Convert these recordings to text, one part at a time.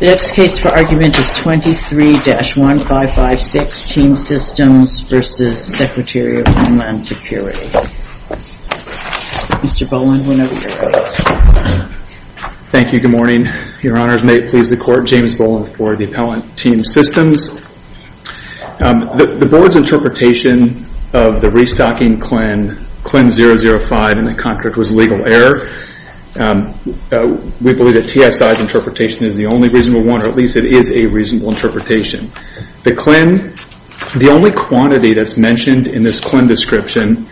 The next case for argument is 23-1556, Team Systems v. Secretary of Homeland Security. Mr. Boland, we'll now hear from you. Thank you. Good morning. Your Honors, may it please the Court, James Boland for the Appellant, Team Systems. The Board's interpretation of the restocking CLIN 005 in the contract was legal error. We believe that TSI's interpretation is the only reasonable one, or at least it is a reasonable interpretation. The CLIN, the only quantity that's mentioned in this CLIN description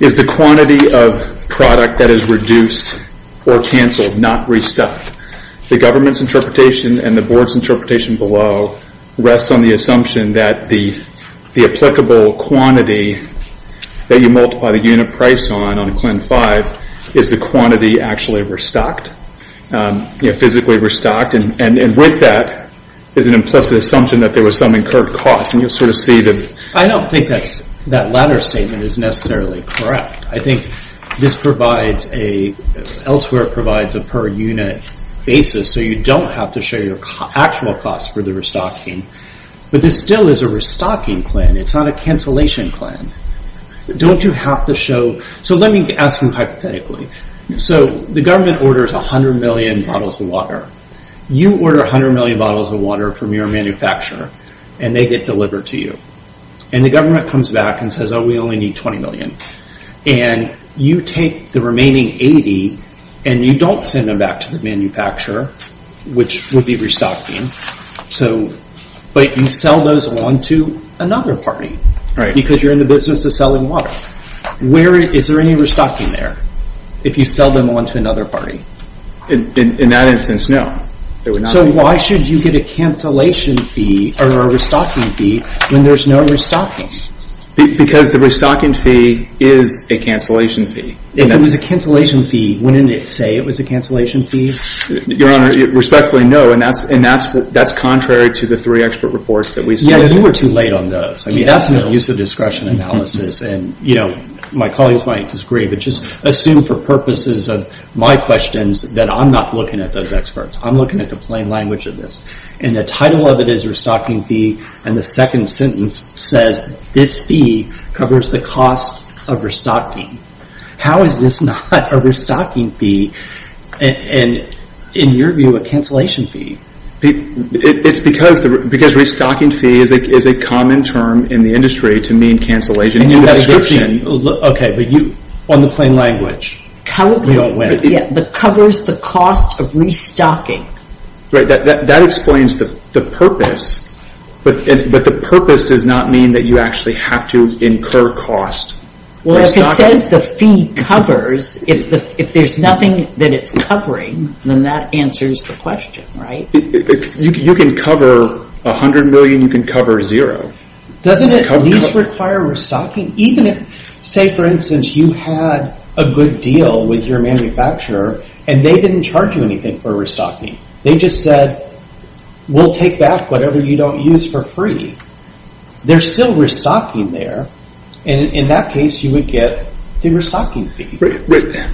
is the quantity of product that is reduced or canceled, not restocked. The Government's interpretation and the Board's interpretation below rests on the assumption that the applicable quantity that you multiply the unit price on, on CLIN 05, is the quantity actually restocked, physically restocked, and with that is an implicit assumption that there was some incurred cost, and you'll sort of see that... I don't think that latter statement is necessarily correct. I think this provides a, elsewhere it provides a per unit basis, so you don't have to show your actual cost for the restocking, but this still is a restocking CLIN. It's not a cancellation CLIN. Don't you have to show... Let me ask you hypothetically. The Government orders 100 million bottles of water. You order 100 million bottles of water from your manufacturer, and they get delivered to you. The Government comes back and says, oh, we only need 20 million. You take the remaining 80, and you don't send them back to the manufacturer, which would be restocking, but you sell those on to another party, because you're in the business of selling water. Is there any restocking there, if you sell them on to another party? In that instance, no. Why should you get a cancellation fee, or a restocking fee, when there's no restocking? Because the restocking fee is a cancellation fee. If it was a cancellation fee, wouldn't it say it was a cancellation fee? Your Honor, respectfully, no, and that's contrary to the three expert reports that we sent. Yeah, you were too late on those. I mean, that's not use of discretion analysis, and my colleagues might disagree, but just assume for purposes of my questions that I'm not looking at those experts. I'm looking at the plain language of this, and the title of it is restocking fee, and the second sentence says this fee covers the cost of restocking. How is this not a restocking fee, and in your view, a cancellation fee? It's because restocking fee is a common term in the industry to mean cancellation of prescription. On the plain language, we don't win. Yeah, it covers the cost of restocking. That explains the purpose, but the purpose does not mean that you actually have to incur cost. Well, if it says the fee covers, if there's nothing that it's covering, then that answers the question, right? You can cover $100 million, you can cover zero. Doesn't it at least require restocking? Say, for instance, you had a good deal with your manufacturer, and they didn't charge you anything for restocking. They just said, we'll take back whatever you don't use for free. They're still restocking there, and in that case, you would get the restocking fee. I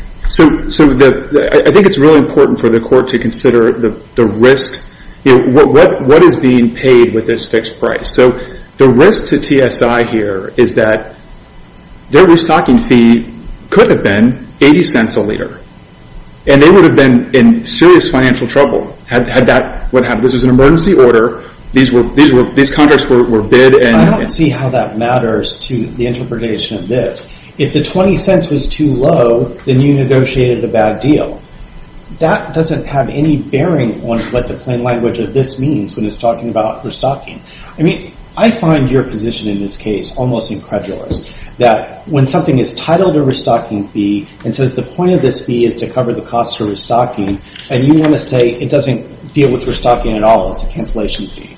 think it's really important for the court to consider the risk. What is being paid with this fixed price? The risk to TSI here is that their restocking fee could have been $0.80 a liter, and they would have been in serious financial trouble had that what happened. This was an emergency order. These contracts were bid, and... I don't see how that matters to the interpretation of this. If the $0.20 was too low, then you negotiated a bad deal. That doesn't have any bearing on what the plain language of this means when it's talking about restocking. I mean, I find your position in this case almost incredulous, that when something is titled a restocking fee and says the point of this fee is to cover the cost of restocking, and you want to say it doesn't deal with restocking at all, it's a cancellation fee.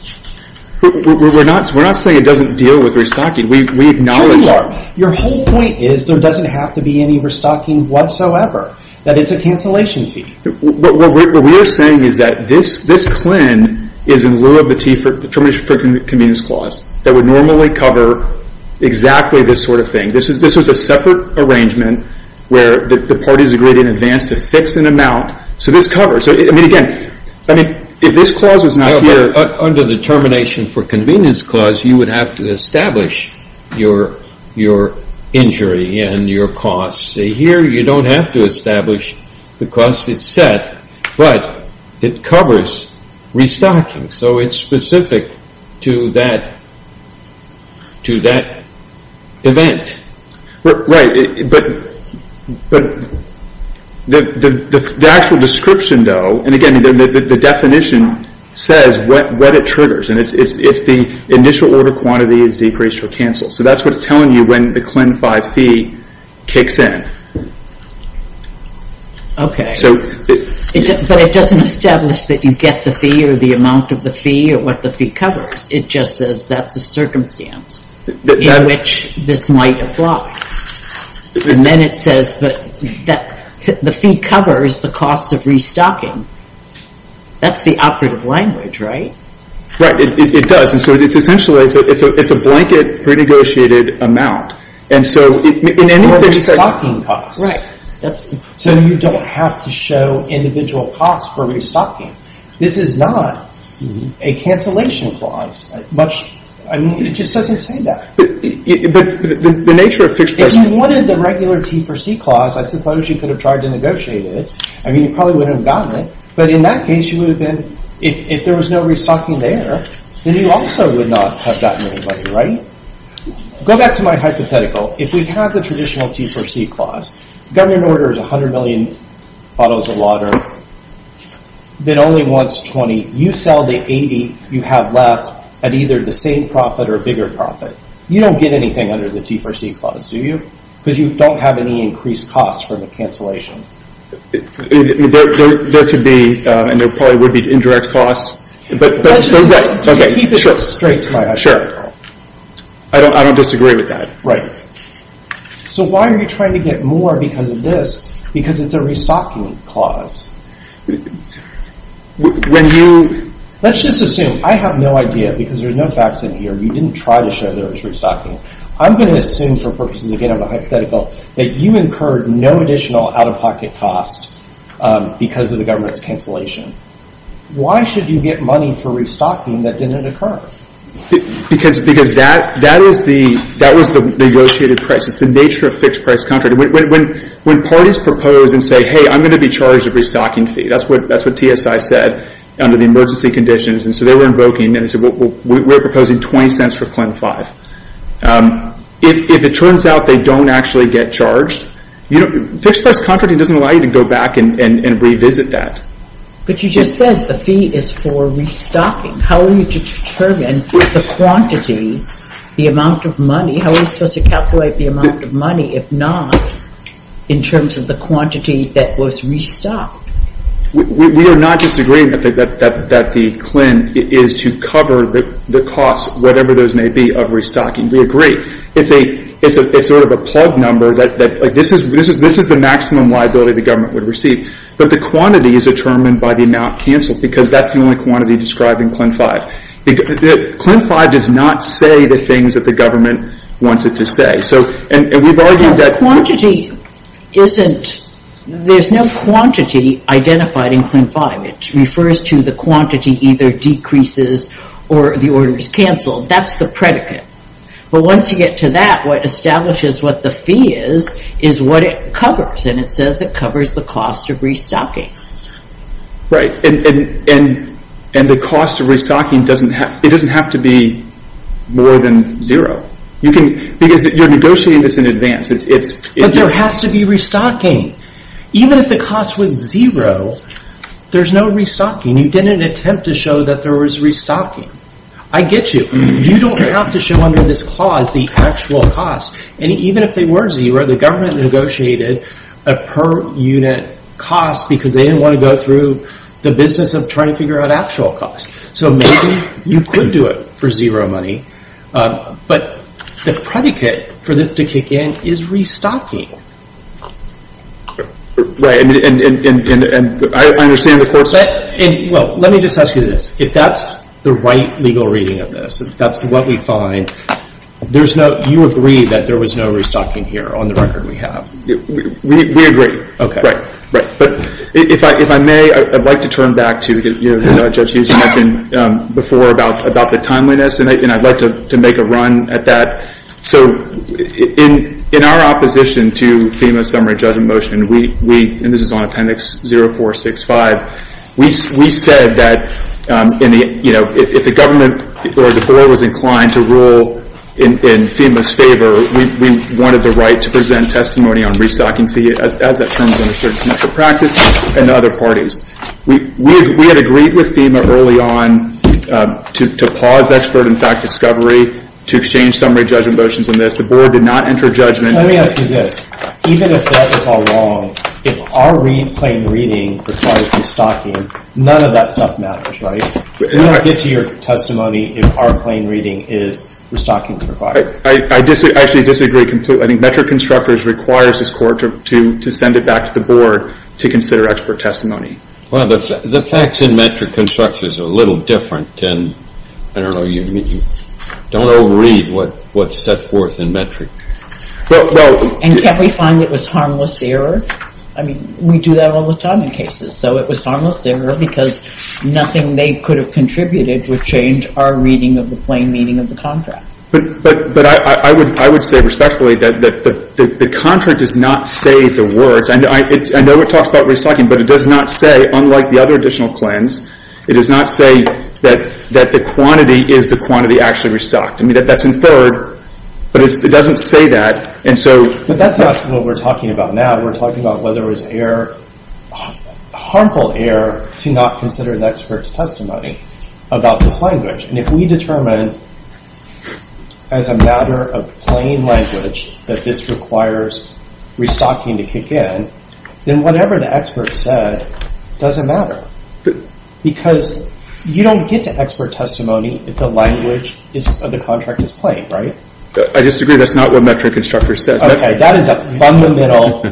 We're not saying it doesn't deal with restocking. We acknowledge... Sure you are. Your whole point is there doesn't have to be any restocking whatsoever, that it's a cancellation fee. What we're saying is that this CLIN is in lieu of the Termination of Friendly Convenience Clause that would normally cover exactly this sort of thing. This was a separate arrangement where the parties agreed in advance to fix an amount, so this covers. I mean, again, if this clause was not here... Under the Termination for Convenience Clause, you would have to establish your injury and your cost. Here, you don't have to establish the cost. It's set, but it covers restocking, so it's specific to that event. Right, but the actual description, though, and again, the definition says what it triggers, and it's the initial order quantity is decreased or canceled, so that's what's telling you when the CLIN 5 fee kicks in. Okay, but it doesn't establish that you get the fee or the amount of the fee or what the fee might apply, and then it says that the fee covers the cost of restocking. That's the operative language, right? Right, it does, and so it's essentially a blanket pre-negotiated amount, and so in any respect... For restocking costs, so you don't have to show individual costs for restocking. This is not a cancellation clause. I mean, it just doesn't say that. If you wanted the regular T4C Clause, I suppose you could have tried to negotiate it. I mean, you probably wouldn't have gotten it, but in that case, you would have been... If there was no restocking there, then you also would not have gotten any money, right? Go back to my hypothetical. If we have the traditional T4C Clause, government order is 100 million bottles of water, then only once, 20. You sell the 80 you have left at either the same profit or a bigger profit. You don't get anything under the T4C Clause, do you? Because you don't have any increased costs from the cancellation. There could be, and there probably would be indirect costs, but... Just keep it straight to my hypothetical. I don't disagree with that. So why are you trying to get more because of this? Because it's a restocking clause. Let's just assume, I have no idea, because there's no facts in here. You didn't try to show there was restocking. I'm going to assume for purposes, again, of a hypothetical, that you incurred no additional out-of-pocket costs because of the government's cancellation. Why should you get money for restocking that didn't occur? Because that was the negotiated price. It's the nature of fixed price contracts. When parties propose and say, hey, I'm going to be charged a restocking fee, that's what TSI said under the emergency conditions. And so they were invoking and said, we're proposing 20 cents for CLEM 5. If it turns out they don't actually get charged, fixed price contracting doesn't allow you to go back and revisit that. But you just said the fee is for restocking. How are you to determine the quantity, the amount of money? How are you supposed to calculate the amount of money, if not in terms of the quantity that was restocked? We are not disagreeing that the CLEM is to cover the cost, whatever those may be, of restocking. We agree. It's sort of a plug number that this is the maximum liability the government would receive. But the quantity is determined by the amount canceled because that's the only quantity described in CLEM 5. CLEM 5 does not say the things that the government wants it to say. Quantity isn't, there's no quantity identified in CLEM 5. It refers to the quantity either decreases or the order is canceled. That's the predicate. But once you get to that, what establishes what the fee is, is what it covers. And it says it covers the cost of restocking. Right. And the cost of restocking, it doesn't have to be more than zero. Because you're negotiating this in advance. But there has to be restocking. Even if the cost was zero, there's no restocking. You didn't attempt to show that there was restocking. I get you. You don't have to show under this clause the actual cost. And even if they were zero, the government negotiated a per unit cost because they didn't want to go through the business of trying to figure out actual cost. So maybe you could do it for zero money. But the predicate for this to kick in is restocking. Right. And I understand the court said... Well, let me just ask you this. If that's the right legal reading of this, if that's what we find, you agree that there was no restocking here on the record we have? We agree. Right. But if I may, I'd like to turn back to, you know, Judge Hughes mentioned before about the timeliness. And I'd like to make a run at that. So in our opposition to FEMA's summary judgment motion, and this is on appendix 0465, we said that if the government or the We had agreed with FEMA early on to pause expert and fact discovery to exchange summary judgment motions on this. The board did not enter judgment. Let me ask you this. Even if that was all wrong, if our plain reading presided from stocking, none of that stuff matters, right? We don't get to your testimony if our plain reading is restocking is required. I actually disagree completely. I think metric constructors requires this court to send it back to the board to consider expert testimony. Well, the facts in metric constructors are a little different. And I don't know. Don't overread what's set forth in metric. And can't we find it was harmless error? I mean, we do that all the time in cases. So it was harmless error because nothing they could have contributed would change our reading of the plain meaning of the contract. But I would say respectfully that the contract does not say the words. I know it talks about restocking, but it does not say, unlike the other additional cleanse, it does not say that the quantity is the quantity actually restocked. I mean, that's inferred, but it doesn't say that. But that's not what we're talking about now. We're talking about whether it was harmful error to not consider the expert's testimony about this language. And if we determine as a matter of plain language that this requires restocking to kick in, then whatever the expert said doesn't matter. Because you don't get to expert testimony if the language of the contract is plain, right? I disagree. That's not what metric constructors says. Okay, that is a fundamental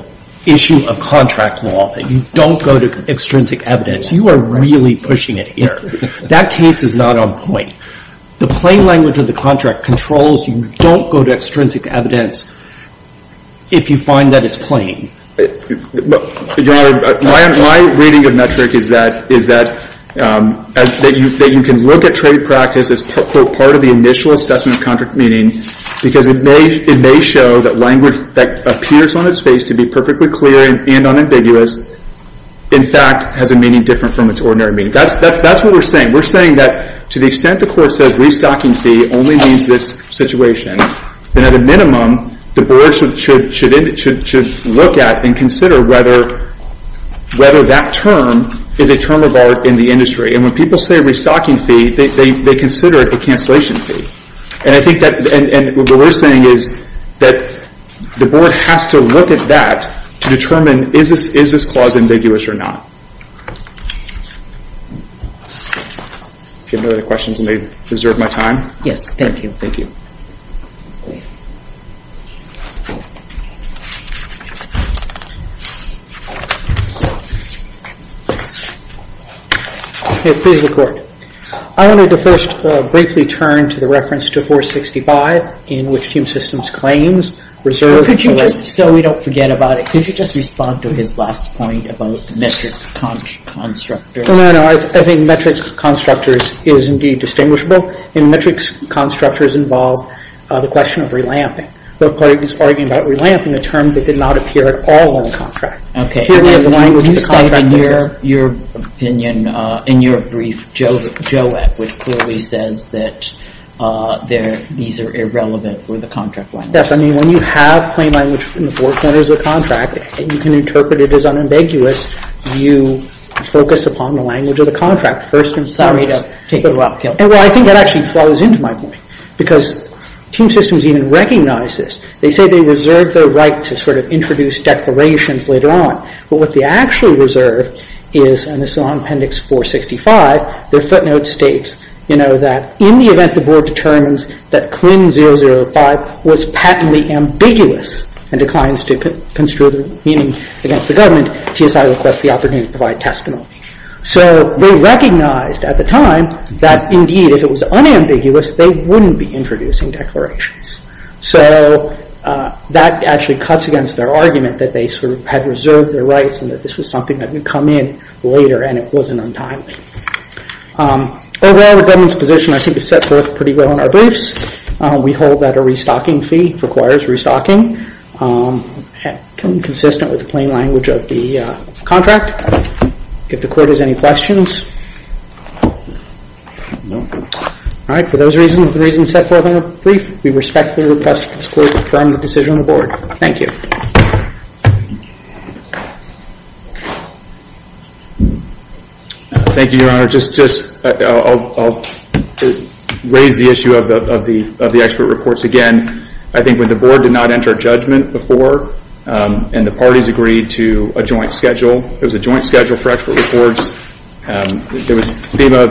issue of contract law. You don't go to extrinsic evidence. You are really pushing it here. That case is not on point. The plain language of the contract controls. You don't go to extrinsic evidence if you find that it's plain. Your Honor, my reading of metric is that you can look at trade practice as, quote, part of the initial assessment of contract meaning because it may show that language that appears on its face to be perfectly clear and unambiguous, in fact, has a meaning different from its ordinary meaning. That's what we're saying. We're saying that to the extent the Court says restocking fee only means this situation, then at a minimum the Board should look at and consider whether that term is a term of art in the industry. And when people say restocking fee, they consider it a cancellation fee. And I think that what we're saying is that the Board has to look at that to determine is this clause ambiguous or not. If you have no other questions, let me reserve my time. Yes, thank you. Thank you. Okay, please record. I wanted to first briefly turn to the reference to 465 in which Team Systems claims reserves No, we don't forget about it. Could you just respond to his last point about the metric constructors? No, no, no. I think metrics constructors is indeed distinguishable. And metrics constructors involve the question of relamping. The Court is arguing about relamping, a term that did not appear at all in the contract. Okay. Here we have the language of the contract. You said in your opinion, in your brief, Joet, which clearly says that these are irrelevant for the contract language. Yes. I mean, when you have plain language from the Board, when there's a contract, and you can interpret it as unambiguous, you focus upon the language of the contract. First and foremost. Sorry to take you up. Well, I think that actually flows into my point. Because Team Systems even recognizes this. They say they reserve their right to sort of introduce declarations later on. But what they actually reserve is, and this is on Appendix 465, their footnote states, you know, that in the event the Board determines that CLIN005 was patently ambiguous and declines to construe the meaning against the government, TSI requests the opportunity to provide testimony. So they recognized at the time that indeed if it was unambiguous, they wouldn't be introducing declarations. So that actually cuts against their argument that they sort of had reserved their rights and that this was something that would come in later and it wasn't untimely. Overall, the government's position, I think, is set forth pretty well in our briefs. We hold that a restocking fee requires restocking. Consistent with the plain language of the contract. If the Court has any questions. All right, for those reasons, the reasons set forth in the brief, we respectfully request that this Court confirm the decision of the Board. Thank you. Thank you, Your Honor. I'll raise the issue of the expert reports again. I think when the Board did not enter a judgment before and the parties agreed to a joint schedule, there was a joint schedule for expert reports. There was FEMA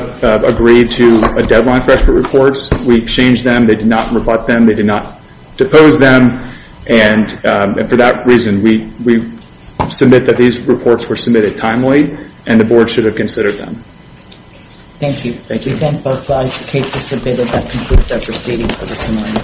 agreed to a deadline for expert reports. We exchanged them. They did not rebut them. They did not depose them. And for that reason, we submit that these reports were submitted timely and the Board should have considered them. Thank you. Thank you. We thank both sides. The case is submitted. That concludes our proceeding for this morning.